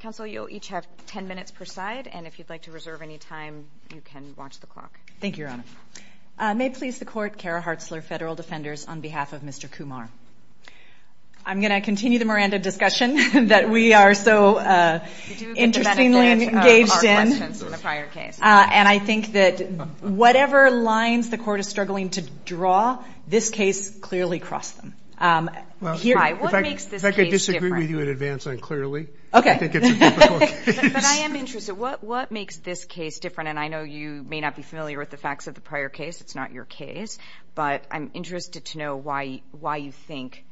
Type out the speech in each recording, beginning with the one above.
Counsel, you'll each have 10 minutes per side, and if you'd like to reserve any time, you can watch the clock. Thank you, Your Honor. May it please the Court, Kara Hartzler, Federal Defenders, on behalf of Mr. Kumar. I'm going to continue the Miranda discussion that we are so interestingly engaged in. You do get to benefit our questions from the prior case. And I think that whatever lines the Court is struggling to draw, this case clearly crossed them. If I could disagree with you in advance on clearly, I think it's a difficult case. But I am interested. What makes this case different? And I know you may not be familiar with the facts of the prior case. It's not your case. But I'm interested to know why you think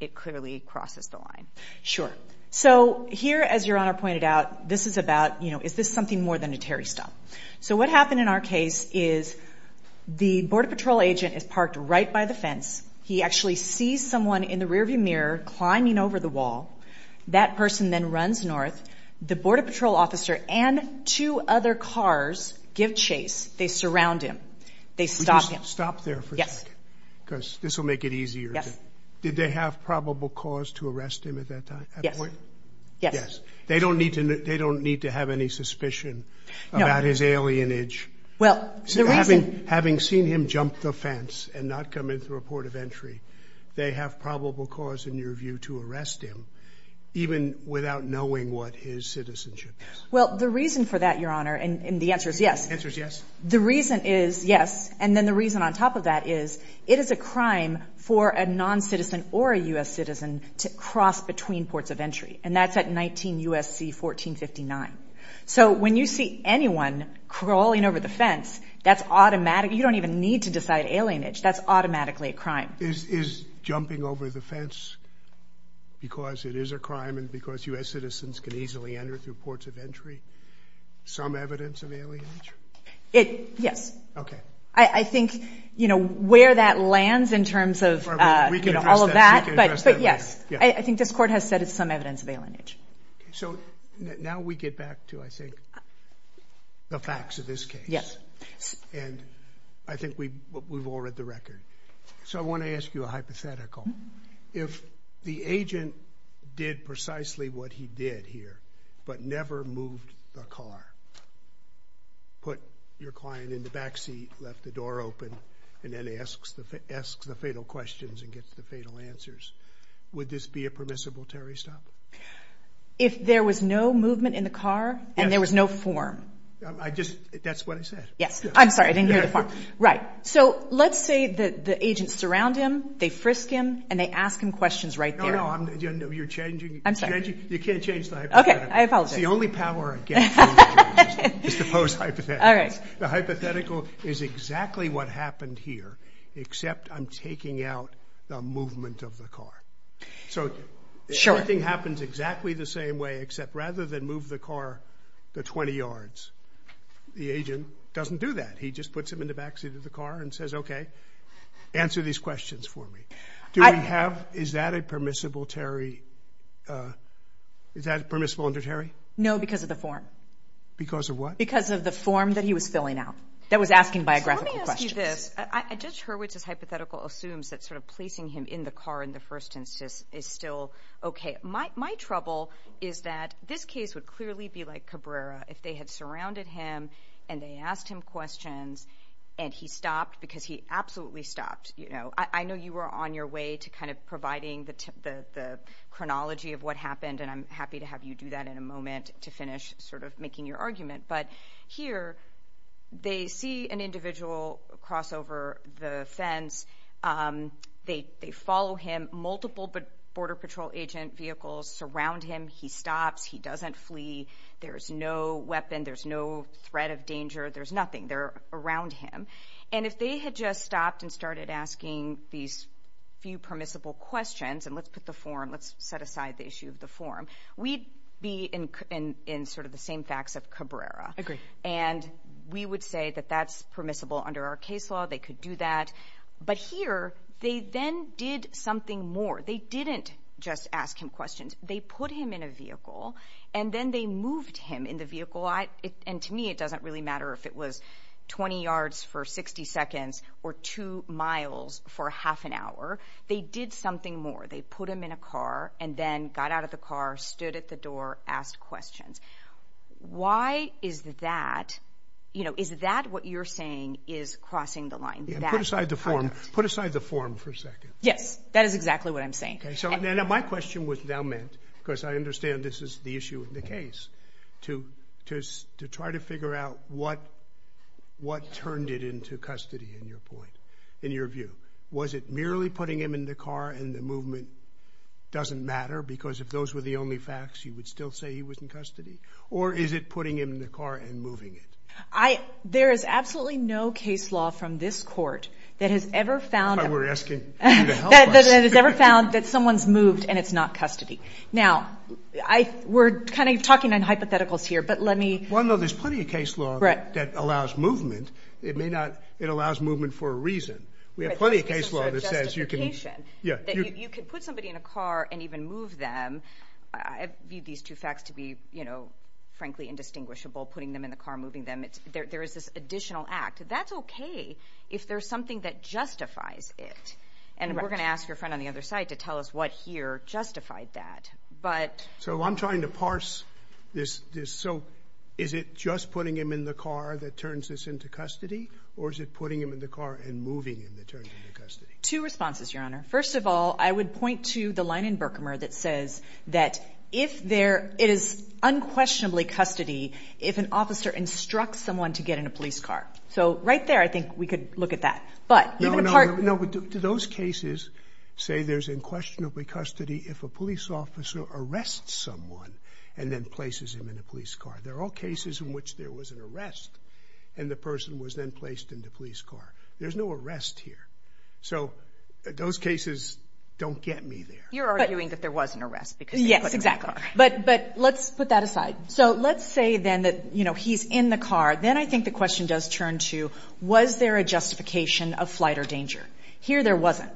it clearly crosses the line. Sure. So here, as Your Honor pointed out, this is about, you know, is this something more than a Terry stump? So what happened in our case is the Border Patrol agent is parked right by the fence. He actually sees someone in the rearview mirror climbing over the wall. That person then runs north. The Border Patrol officer and two other cars give chase. They surround him. They stop him. Would you stop there for a second? Because this will make it easier. Yes. Did they have probable cause to arrest him at that point? Yes. They don't need to have any suspicion about his alienage. Well, the reason Having seen him jump the fence and not come in through a port of entry, they have probable cause, in your view, to arrest him, even without knowing what his citizenship is. Well, the reason for that, Your Honor, and the answer is yes. The answer is yes. The reason is yes. And then the reason on top of that is it is a crime for a noncitizen or a U.S. citizen to cross between ports of entry. And that's at 19 U.S.C. 1459. So when you see anyone crawling over the fence, that's automatic. You don't even need to decide alienage. That's automatically a crime. Is jumping over the fence, because it is a crime and because U.S. citizens can easily enter through ports of entry, some evidence of alienage? Yes. Okay. I think, you know, where that lands in terms of all of that, but yes. I think this Court has said it's some evidence of alienage. Okay. So now we get back to, I think, the facts of this case. And I think we've all read the record. So I want to ask you a hypothetical. If the agent did precisely what he did here but never moved the car, put your client in the back seat, left the door open, and then asks the fatal questions and gets the fatal answers, would this be a permissible terrorist stop? If there was no movement in the car and there was no form. I just, that's what I said. Yes. I'm sorry. I didn't hear the form. Right. So let's say that the agents surround him, they frisk him, and they ask him questions right there. No, no. You're changing. I'm sorry. You can't change the hypothetical. Okay. I apologize. It's the only power I get from the judge. It's the post-hypothetical. All right. The hypothetical is exactly what happened here, except I'm taking out the movement of the car. Sure. Everything happens exactly the same way except rather than move the car to 20 yards, the agent doesn't do that. He just puts him in the back seat of the car and says, okay, answer these questions for me. Do we have, is that a permissible terrorist, is that permissible under terrorist? No, because of the form. Because of what? Because of the form that he was filling out that was asking biographical questions. Let me ask you this. Judge Hurwitz's hypothetical assumes that sort of placing him in the car in the first instance is still okay. My trouble is that this case would clearly be like Cabrera if they had surrounded him and they asked him questions and he stopped because he absolutely stopped, you know. I know you were on your way to kind of providing the chronology of what happened, and I'm happy to have you do that in a moment to finish sort of making your argument. But here they see an individual cross over the fence. They follow him. Multiple Border Patrol agent vehicles surround him. He stops. He doesn't flee. There's no weapon. There's no threat of danger. There's nothing. They're around him. And if they had just stopped and started asking these few permissible questions, and let's put the form, let's set aside the issue of the form, we'd be in sort of the same facts of Cabrera. And we would say that that's permissible under our case law. They could do that. But here they then did something more. They didn't just ask him questions. They put him in a vehicle, and then they moved him in the vehicle. And to me it doesn't really matter if it was 20 yards for 60 seconds or 2 miles for half an hour. They did something more. They put him in a car and then got out of the car, stood at the door, asked questions. Why is that, you know, is that what you're saying is crossing the line? Put aside the form for a second. Yes. That is exactly what I'm saying. Okay. So my question was now meant, because I understand this is the issue of the case, to try to figure out what turned it into custody in your point, in your view. Was it merely putting him in the car and the movement doesn't matter? Because if those were the only facts, you would still say he was in custody? Or is it putting him in the car and moving it? There is absolutely no case law from this court that has ever found that someone's moved and it's not custody. Now, we're kind of talking on hypotheticals here, but let me – Well, no, there's plenty of case law that allows movement. It may not. It allows movement for a reason. We have plenty of case law that says you can – It's a justification that you can put somebody in a car and even move them. I view these two facts to be, you know, frankly indistinguishable, putting them in the car, moving them. There is this additional act. That's okay if there's something that justifies it. And we're going to ask your friend on the other side to tell us what here justified that. So I'm trying to parse this. So is it just putting him in the car that turns this into custody? Or is it putting him in the car and moving him that turns it into custody? Two responses, Your Honor. First of all, I would point to the line in Berkmer that says that if there – it is unquestionably custody if an officer instructs someone to get in a police car. So right there I think we could look at that. But even a part – No, no, no. I would to those cases say there's unquestionably custody if a police officer arrests someone and then places him in a police car. They're all cases in which there was an arrest and the person was then placed in the police car. There's no arrest here. So those cases don't get me there. You're arguing that there was an arrest because they put him in the car. Yes, exactly. But let's put that aside. So let's say then that, you know, he's in the car. Then I think the question does turn to was there a justification of flight or danger. Here there wasn't.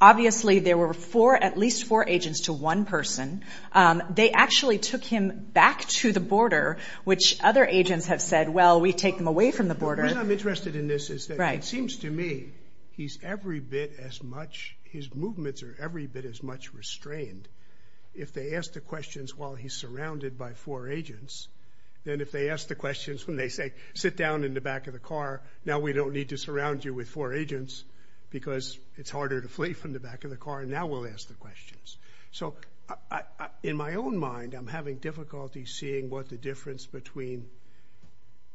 Obviously there were four – at least four agents to one person. They actually took him back to the border, which other agents have said, well, we take them away from the border. What I'm interested in this is that it seems to me he's every bit as much – his movements are every bit as much restrained if they ask the questions while he's surrounded by four agents than if they ask the questions when they say, sit down in the back of the car. Now we don't need to surround you with four agents because it's harder to flee from the back of the car and now we'll ask the questions. So in my own mind, I'm having difficulty seeing what the difference between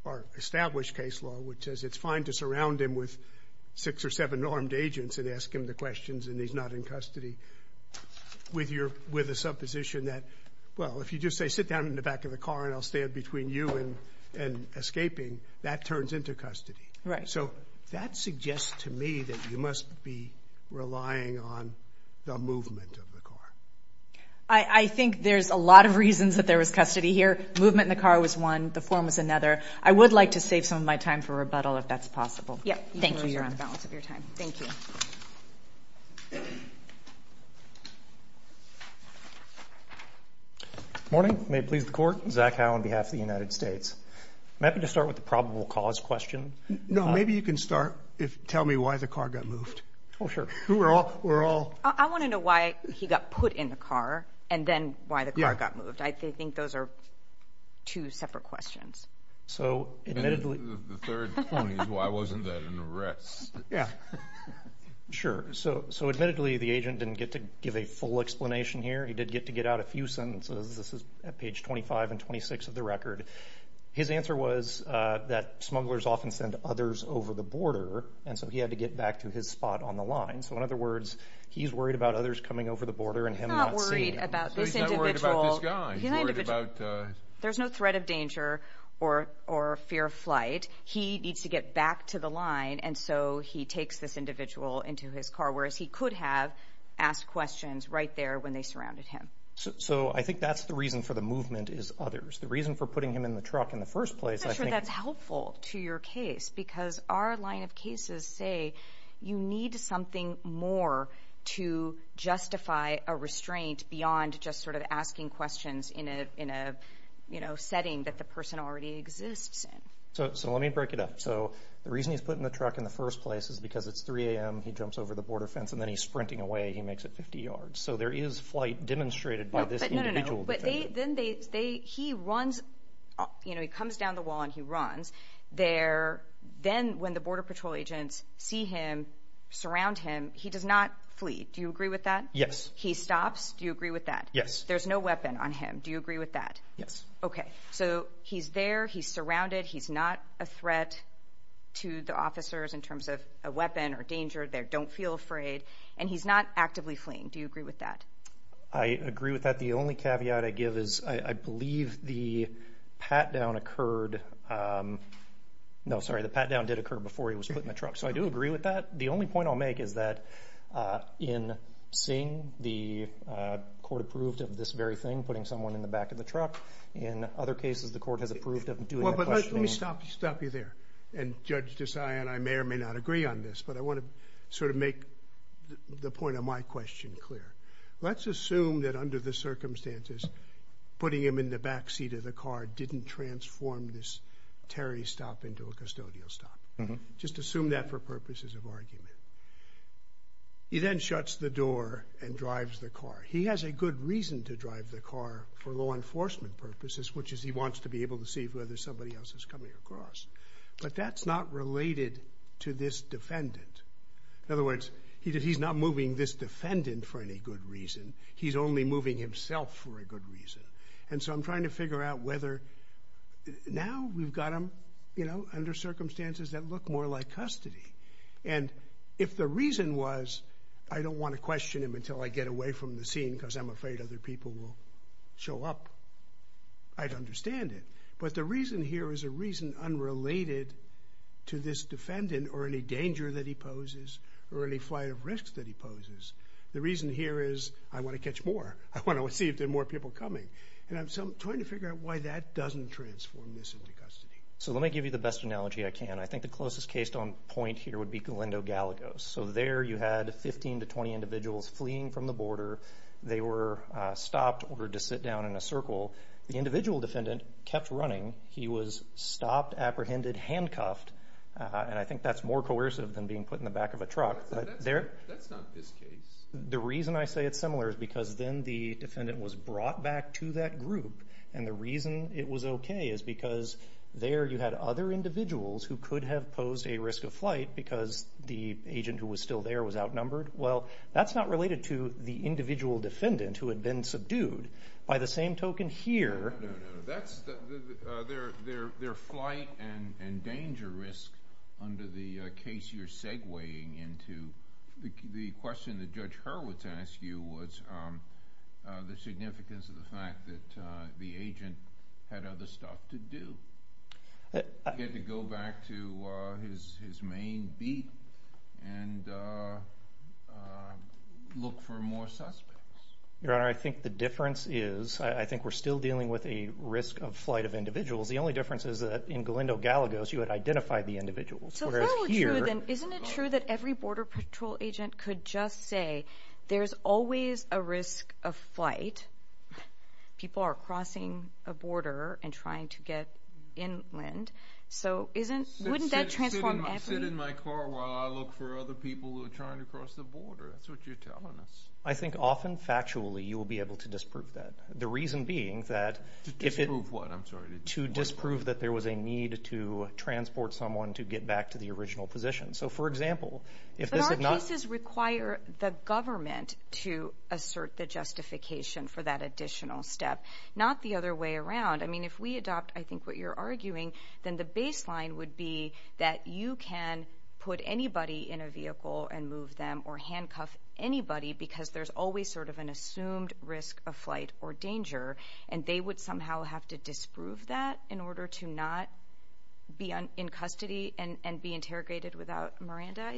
our established case law, which says it's fine to surround him with six or seven armed agents and ask him the questions and he's not in custody, with a supposition that, well, if you just say, sit down in the back of the car and I'll stand between you and escaping, that turns into custody. So that suggests to me that you must be relying on the movement of the car. I think there's a lot of reasons that there was custody here. Movement in the car was one. The form was another. I would like to save some of my time for rebuttal if that's possible. Thank you, Your Honor. I appreciate the balance of your time. Thank you. Morning. May it please the Court. Zach Howe on behalf of the United States. I'm happy to start with the probable cause question. No, maybe you can start. Tell me why the car got moved. Oh, sure. I want to know why he got put in the car and then why the car got moved. I think those are two separate questions. The third point is why wasn't that an arrest? Yeah, sure. So admittedly, the agent didn't get to give a full explanation here. He did get to get out a few sentences. This is at page 25 and 26 of the record. His answer was that smugglers often send others over the border, and so he had to get back to his spot on the line. So in other words, he's worried about others coming over the border and him not seeing them. He's not worried about this individual. There's no threat of danger or fear of flight. He needs to get back to the line, and so he takes this individual into his car, whereas he could have asked questions right there when they surrounded him. So I think that's the reason for the movement is others. The reason for putting him in the truck in the first place, I think— I'm not sure that's helpful to your case, because our line of cases say you need something more to justify a restraint beyond just sort of asking questions in a, you know, setting that the person already exists in. So let me break it up. So the reason he's put in the truck in the first place is because it's 3 a.m., he jumps over the border fence, and then he's sprinting away. He makes it 50 yards. So there is flight demonstrated by this individual. No, no, no. But then they—he runs—you know, he comes down the wall and he runs. Then when the Border Patrol agents see him, surround him, he does not flee. Do you agree with that? Yes. He stops. Do you agree with that? Yes. There's no weapon on him. Do you agree with that? Yes. Okay. So he's there. He's surrounded. He's not a threat to the officers in terms of a weapon or danger. They don't feel afraid. And he's not actively fleeing. Do you agree with that? I agree with that. The only caveat I give is I believe the pat-down occurred—no, sorry, the pat-down did occur before he was put in the truck. So I do agree with that. The only point I'll make is that in seeing the court approved of this very thing, putting someone in the back of the truck, in other cases, the court has approved of doing that. Well, but let me stop you there. And Judge Desai and I may or may not agree on this, but I want to sort of make the point of my question clear. Let's assume that under the circumstances, putting him in the back seat of the car didn't transform this Terry stop into a custodial stop. Just assume that for purposes of argument. He then shuts the door and drives the car. He has a good reason to drive the car for law enforcement purposes, which is he wants to be able to see whether somebody else is coming across. But that's not related to this defendant. In other words, he's not moving this defendant for any good reason. He's only moving himself for a good reason. And so I'm trying to figure out whether now we've got him, you know, under circumstances that look more like custody. And if the reason was I don't want to question him until I get away from the scene because I'm afraid other people will show up, I'd understand it. But the reason here is a reason unrelated to this defendant or any danger that he poses or any flight of risks that he poses. The reason here is I want to catch more. I want to see if there are more people coming. And I'm trying to figure out why that doesn't transform this into custody. So let me give you the best analogy I can. I think the closest case on point here would be Galindo Gallegos. So there you had 15 to 20 individuals fleeing from the border. They were stopped, ordered to sit down in a circle. The individual defendant kept running. He was stopped, apprehended, handcuffed. And I think that's more coercive than being put in the back of a truck. But that's not this case. The reason I say it's similar is because then the defendant was brought back to that group. And the reason it was okay is because there you had other individuals who could have posed a risk of flight because the agent who was still there was outnumbered. Well, that's not related to the individual defendant who had been subdued. By the same token here. No, no, no. Their flight and danger risk under the case you're segueing into, the question that Judge Hurwitz asked you was the significance of the fact that the agent had other stuff to do. He had to go back to his main beat and look for more suspects. Your Honor, I think the difference is, I think we're still dealing with a risk of flight of individuals. The only difference is that in Galindo Gallegos you had identified the individuals. Isn't it true that every Border Patrol agent could just say, there's always a risk of flight. People are crossing a border and trying to get inland. So wouldn't that transform everything? I sit in my car while I look for other people who are trying to cross the That's what you're telling us. I think often factually you will be able to disprove that. The reason being that to disprove that there was a need to transport someone to get back to the original position. But our cases require the government to assert the justification for that additional step, not the other way around. I mean, if we adopt, I think what you're arguing, then the baseline would be that you can put anybody in a vehicle and move them or handcuff anybody because there's always sort of an assumed risk of flight or danger. And they would somehow have to disprove that in order to not be in custody and be interrogated without Miranda.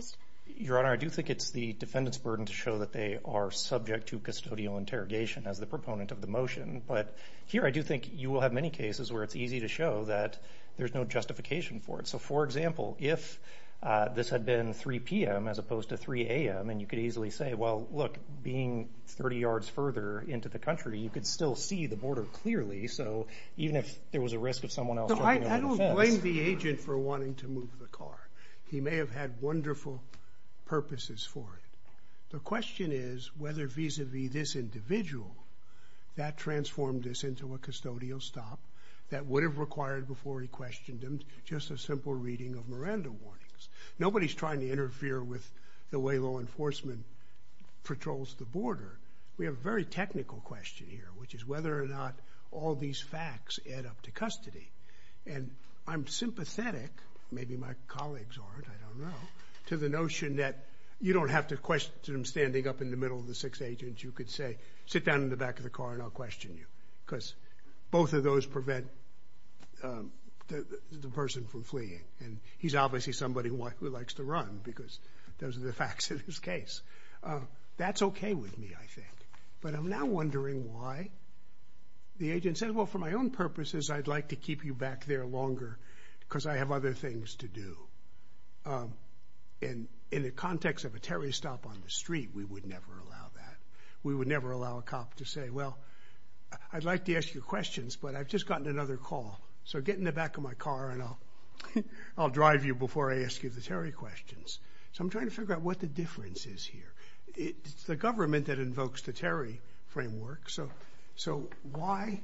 Your Honor, I do think it's the defendant's burden to show that they are subject to custodial interrogation as the proponent of the motion. But here, I do think you will have many cases where it's easy to show that there's no justification for it. So for example, if this had been 3 p.m. as opposed to 3 a.m. and you could easily say, well, look, being 30 yards further into the country, you could still see the border clearly. So even if there was a risk of someone else, I don't blame the agent for wanting to move the car. He may have had wonderful purposes for it. The question is whether vis-a-vis this individual, that transformed this into a custodial stop that would have required before he questioned him just a simple reading of Miranda warnings. Nobody's trying to interfere with the way law enforcement patrols the border. We have a very technical question here, which is whether or not all these facts add up to custody. And I'm sympathetic, maybe my colleagues aren't, I don't know, to the notion that you don't have to question him standing up in the middle of the six agents. You could say, sit down in the back of the car and I'll question you. Because both of those prevent the person from fleeing. And he's obviously somebody who likes to run because those are the facts of his case. That's okay with me, I think. But I'm now wondering why the agent said, well, for my own purposes I'd like to keep you back there longer because I have other things to do. And in the context of a Terry stop on the street, we would never allow that. We would never allow a cop to say, well, I'd like to ask you questions, but I've just gotten another call. So get in the back of my car and I'll drive you before I ask you the Terry questions. So I'm trying to figure out what the difference is here. It's the government that invokes the Terry framework. So why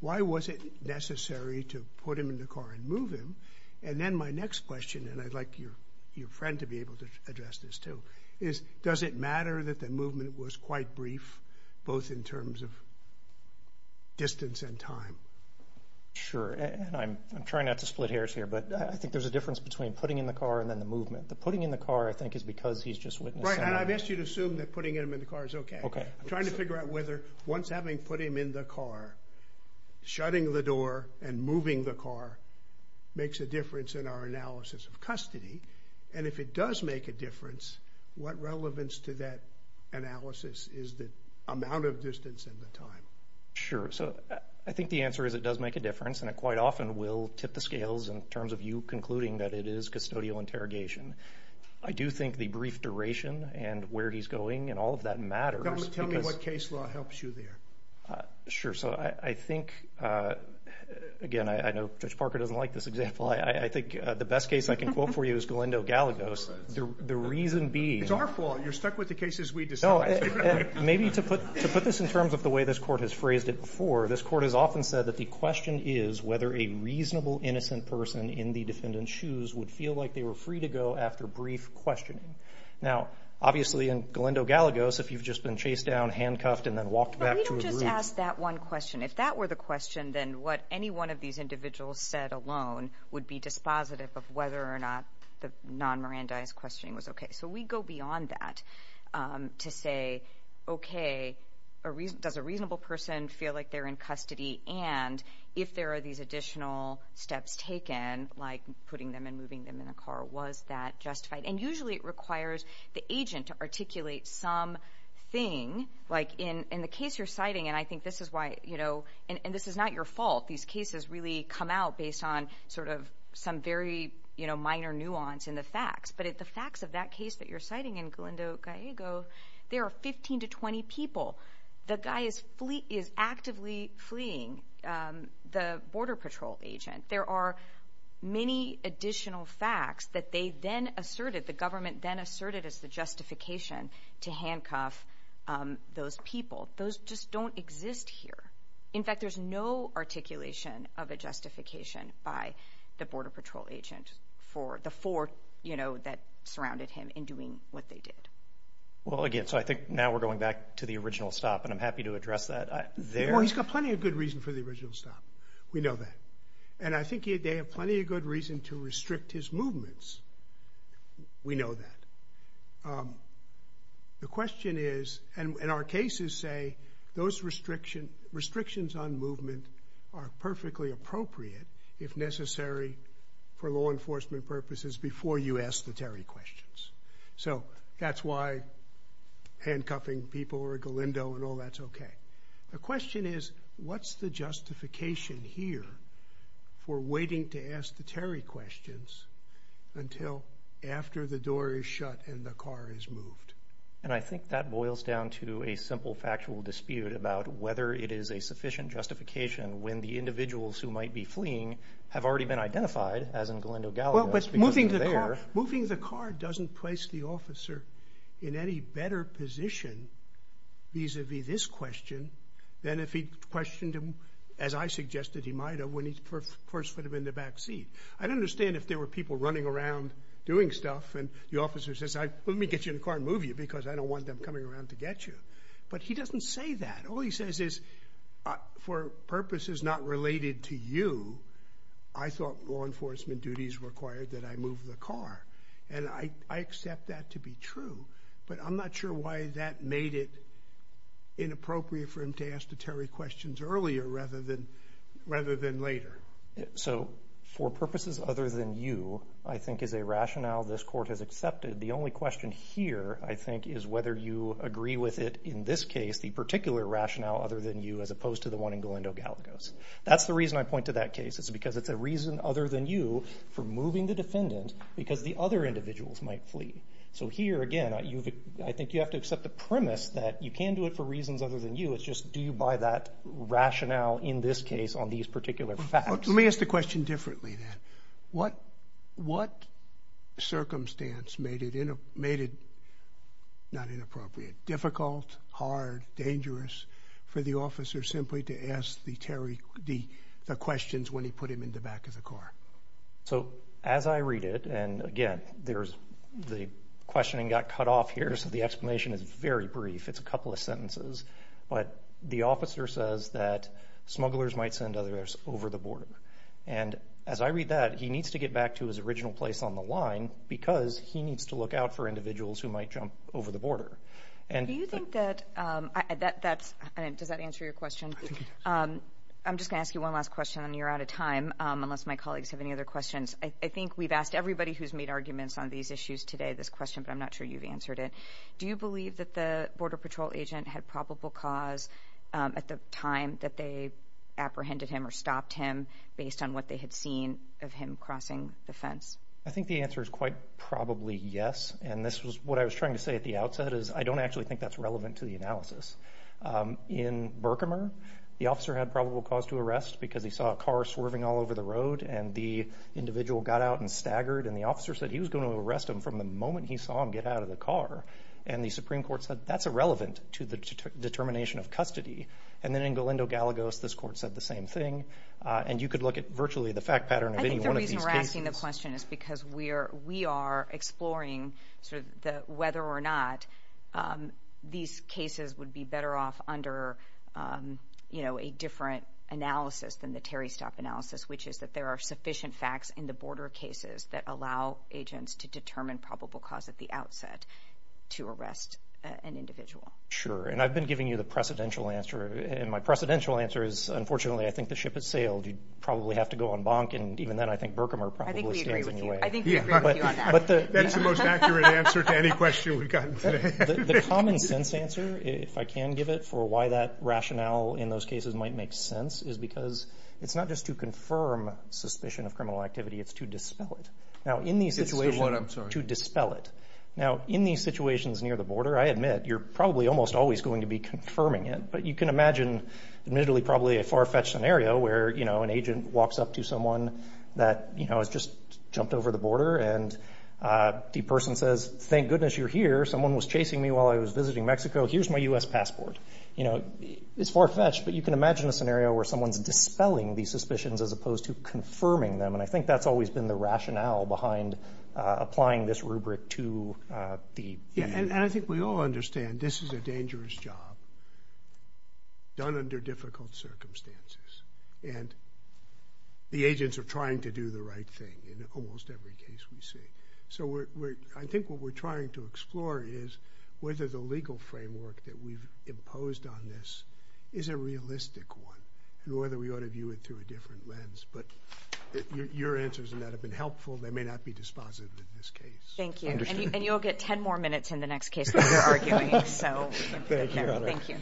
was it necessary to put him in the car and move him? And then my next question, and I'd like your friend to be able to address this too, is does it matter that the movement was quite brief, both in terms of distance and time? Sure. And I'm trying not to split hairs here, but I think there's a difference between putting in the car and then the movement. The putting in the car, I think, is because he's just witnessing. Right. And I've asked you to assume that putting him in the car is okay. Okay. I'm trying to figure out whether once having put him in the car, shutting the door and moving the car makes a difference in our analysis of And if it does make a difference, what relevance to that analysis is the amount of distance and the time? Sure. So I think the answer is it does make a difference, and it quite often will tip the scales in terms of you concluding that it is custodial interrogation. I do think the brief duration and where he's going and all of that matters Tell me what case law helps you there. So I think, again, I know Judge Parker doesn't like this example. I think the best case I can quote for you is Galindo Galagos. The reason being It's our fault. You're stuck with the cases we decide. Maybe to put this in terms of the way this court has phrased it before, this court has often said that the question is whether a reasonable, innocent person in the defendant's shoes would feel like they were free to go after brief questioning. Now, obviously, in Galindo Galagos, if you've just been chased down, handcuffed, and then walked back to a room. But we don't just ask that one question. If that were the question, then what any one of these individuals said alone would be dispositive of whether or not the non-Mirandaized questioning was okay. So we go beyond that to say, okay, does a reasonable person feel like they're in custody? And if there are these additional steps taken, like putting them and moving them in a car, was that justified? And usually it requires the agent to articulate something. Like in the case you're citing, and I think this is why, and this is not your fault. These cases really come out based on sort of some very minor nuance in the facts. But the facts of that case that you're citing in Galindo Galagos, there are 15 to 20 people. The guy is actively fleeing the border patrol agent. There are many additional facts that they then asserted, the government then asserted as the justification to handcuff those people. Those just don't exist here. In fact, there's no articulation of a justification by the border patrol agent for the four that surrounded him in doing what they did. Well, again, so I think now we're going back to the original stop, and I'm happy to address that there. Well, he's got plenty of good reason for the original stop. We know that. And I think they have plenty of good reason to restrict his movements. We know that. The question is, and our cases say those restrictions on movement are perfectly appropriate if necessary for law enforcement purposes before you ask the Terry questions. So that's why handcuffing people or Galindo and all that's okay. The question is, what's the justification here for waiting to ask the Terry questions until after the door is shut and the car is moved? And I think that boils down to a simple factual dispute about whether it is a sufficient justification when the individuals who might be fleeing have already been identified, as in Galindo Galagos, because they're there. Moving the car doesn't place the officer in any better position vis-a-vis this question than if he questioned him, as I suggested he might have, when he first put him in the back seat. I'd understand if there were people running around doing stuff and the officer says, let me get you in the car and move you because I don't want them coming around to get you. But he doesn't say that. All he says is, for purposes not related to you, I thought law enforcement duties required that I move the car, and I accept that to be true, but I'm not sure why that made it inappropriate for him to ask the Terry questions earlier rather than later. So, for purposes other than you, I think is a rationale this court has accepted. The only question here, I think, is whether you agree with it in this case, the particular rationale other than you, as opposed to the one in Galindo Galagos. That's the reason I point to that case. It's because it's a reason other than you for moving the defendant because the other individuals might flee. So here, again, I think you have to accept the premise that you can do it for reasons other than you. It's just do you buy that rationale in this case on these particular facts? Let me ask the question differently then. What circumstance made it not inappropriate, difficult, hard, dangerous, for the officer simply to ask the Terry the questions when he put him in the back of the car? So, as I read it, and again, the questioning got cut off here, so the explanation is very brief. It's a couple of sentences. But the officer says that smugglers might send others over the border. And as I read that, he needs to get back to his original place on the line because he needs to look out for individuals who might jump over the border. Do you think that that's – does that answer your question? I'm just going to ask you one last question, and you're out of time unless my colleagues have any other questions. I think we've asked everybody who's made arguments on these issues today this question, but I'm not sure you've answered it. Do you believe that the Border Patrol agent had probable cause at the time that they apprehended him or stopped him based on what they had seen of him crossing the fence? I think the answer is quite probably yes. And this was what I was trying to say at the outset is I don't actually think that's relevant to the analysis. In Berkimer, the officer had probable cause to arrest because he saw a car swerving all over the road, and the individual got out and staggered. And the officer said he was going to arrest him from the moment he saw him get out of the car. And the Supreme Court said that's irrelevant to the determination of custody. And then in Galindo-Galagos, this court said the same thing. And you could look at virtually the fact pattern of any one of these cases. I think the reason we're asking the question is because we are exploring whether or not these cases would be better off under a different analysis than the Terry Stopp analysis, which is that there are sufficient facts in the border cases that allow agents to determine probable cause at the outset to arrest an individual. Sure, and I've been giving you the precedential answer, and my precedential answer is unfortunately I think the ship has sailed. You'd probably have to go on bonk, and even then I think Berkimer probably stands in your way. I think we agree with you on that. That's the most accurate answer to any question we've gotten today. The common sense answer, if I can give it, for why that rationale in those cases might make sense is because it's not just to confirm suspicion of criminal activity. It's to dispel it. It's to what, I'm sorry? To dispel it. Now, in these situations near the border, I admit you're probably almost always going to be confirming it, but you can imagine admittedly probably a far-fetched scenario where, you know, an agent walks up to someone that, you know, has just jumped over the border, and the person says, thank goodness you're here. Someone was chasing me while I was visiting Mexico. Here's my U.S. passport. You know, it's far-fetched, but you can imagine a scenario where someone's dispelling these suspicions as opposed to confirming them, and I think that's always been the rationale behind applying this rubric to the... Yeah, and I think we all understand this is a dangerous job done under difficult circumstances, and the agents are trying to do the right thing in almost every case we see. So I think what we're trying to explore is whether the legal framework that we've imposed on this is a realistic one and whether we ought to view it through a different lens, but your answers in that have been helpful. They may not be dispositive in this case. Thank you, and you'll get 10 more minutes in the next case we're arguing, so thank you.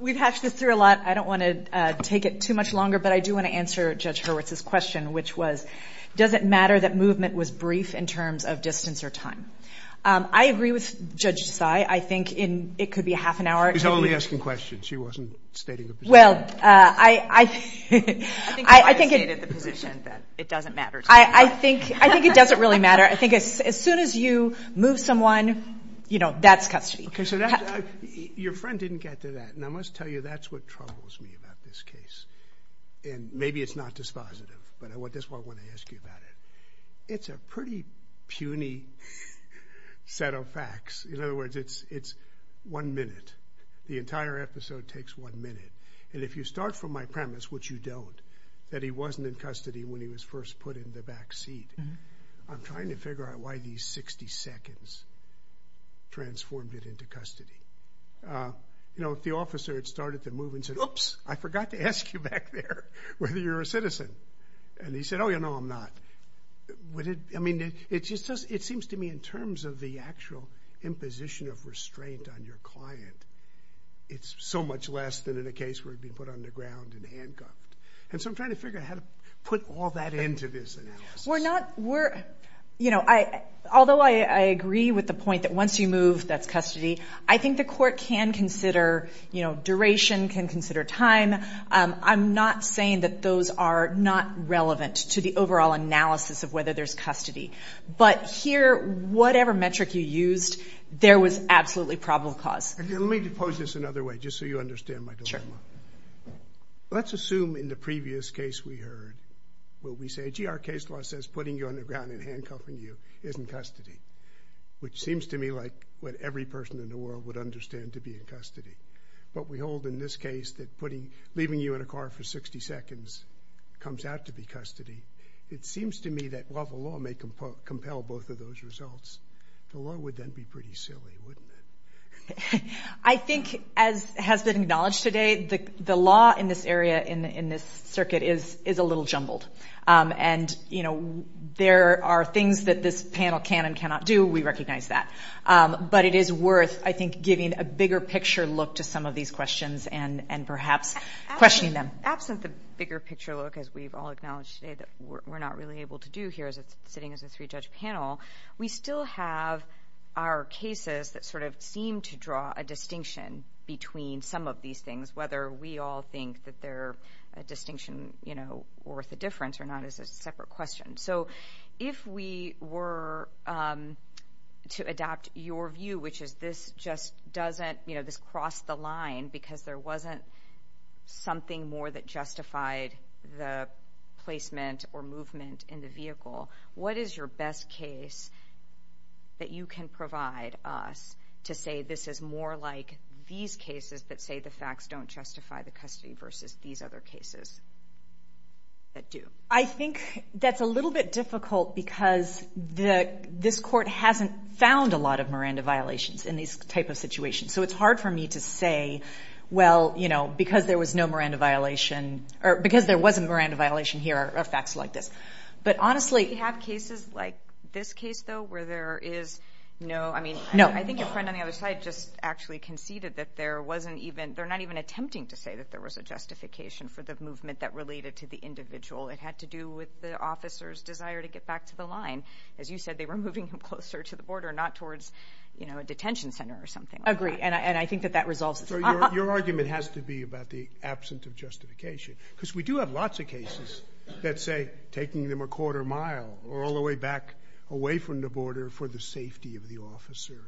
We've hatched this through a lot. I don't want to take it too much longer, but I do want to answer Judge Hurwitz's question, which was, does it matter that movement was brief in terms of distance or time? I agree with Judge Tsai. I think it could be half an hour. She's only asking questions. She wasn't stating a position. Well, I think it... I think you already stated the position that it doesn't matter. I think it doesn't really matter. I think as soon as you move someone, that's custody. Your friend didn't get to that, and I must tell you that's what troubles me about this case. Maybe it's not dispositive, but I just want to ask you about it. It's a pretty puny set of facts. In other words, it's one minute. The entire episode takes one minute, and if you start from my premise, which you don't, that he wasn't in custody when he was first put in the back seat, I'm trying to figure out why these 60 seconds transformed it into custody. If the officer had started to move and said, oops, I forgot to ask you back there whether you're a citizen, and he said, oh, yeah, no, I'm not. I mean, it seems to me in terms of the actual imposition of restraint on your client, it's so much less than in a case where he'd be put on the ground and handcuffed. And so I'm trying to figure out how to put all that into this analysis. Although I agree with the point that once you move, that's custody, I think the court can consider duration, can consider time. I'm not saying that those are not relevant to the overall analysis of whether there's custody. But here, whatever metric you used, there was absolutely probable cause. Let me pose this another way, just so you understand my dilemma. Sure. Let's assume in the previous case we heard where we say, gee, our case law says putting you on the ground and handcuffing you is in custody, which seems to me like what every person in the world would understand to be in custody. But we hold in this case that leaving you in a car for 60 seconds comes out to be custody. It seems to me that while the law may compel both of those results, the law would then be pretty silly, wouldn't it? I think as has been acknowledged today, the law in this area, in this circuit, is a little jumbled. And, you know, there are things that this panel can and cannot do. We recognize that. But it is worth, I think, giving a bigger picture look to some of these questions and perhaps questioning them. Absent the bigger picture look, as we've all acknowledged today, that we're not really able to do here sitting as a three-judge panel, we still have our cases that sort of seem to draw a distinction between some of these things, whether we all think that they're a distinction worth a difference or not is a separate question. So if we were to adopt your view, which is this just doesn't, you know, this crossed the line because there wasn't something more that justified the placement or movement in the vehicle, what is your best case that you can provide us to say this is more like these cases that say the facts don't justify the custody versus these other cases that do? I think that's a little bit difficult because this court hasn't found a lot of Miranda violations in these type of situations. So it's hard for me to say, well, you know, because there was no Miranda violation or because there was a Miranda violation here are facts like this. But honestly we have cases like this case, though, where there is no, I mean, I think your friend on the other side just actually conceded that there wasn't even, they're not even attempting to say that there was a justification for the movement that related to the individual. It had to do with the officer's desire to get back to the line. As you said, they were moving him closer to the border, not towards a detention center or something like that. I agree, and I think that that resolves the problem. So your argument has to be about the absence of justification because we do have lots of cases that say taking them a quarter mile or all the way back away from the border for the safety of the officer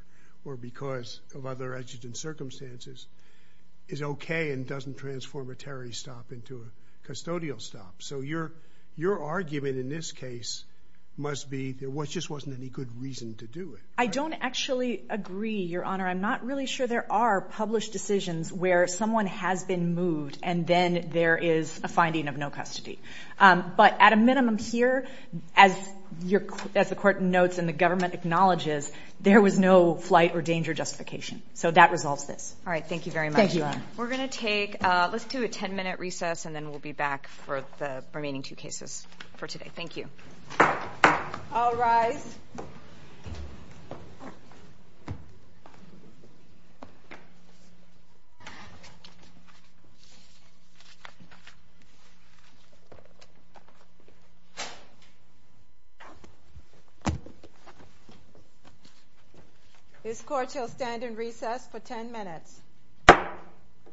or because of other exigent circumstances is okay and doesn't transform a terrorist stop into a custodial stop. So your argument in this case must be there just wasn't any good reason to do it. I don't actually agree, Your Honor. I'm not really sure there are published decisions where someone has been moved and then there is a finding of no custody. But at a minimum here, as the Court notes and the government acknowledges, there was no flight or danger justification. So that resolves this. All right. Thank you very much, Your Honor. Thank you. We're going to take a 10-minute recess, and then we'll be back for the remaining two cases for today. Thank you. I'll rise. This Court shall stand in recess for 10 minutes.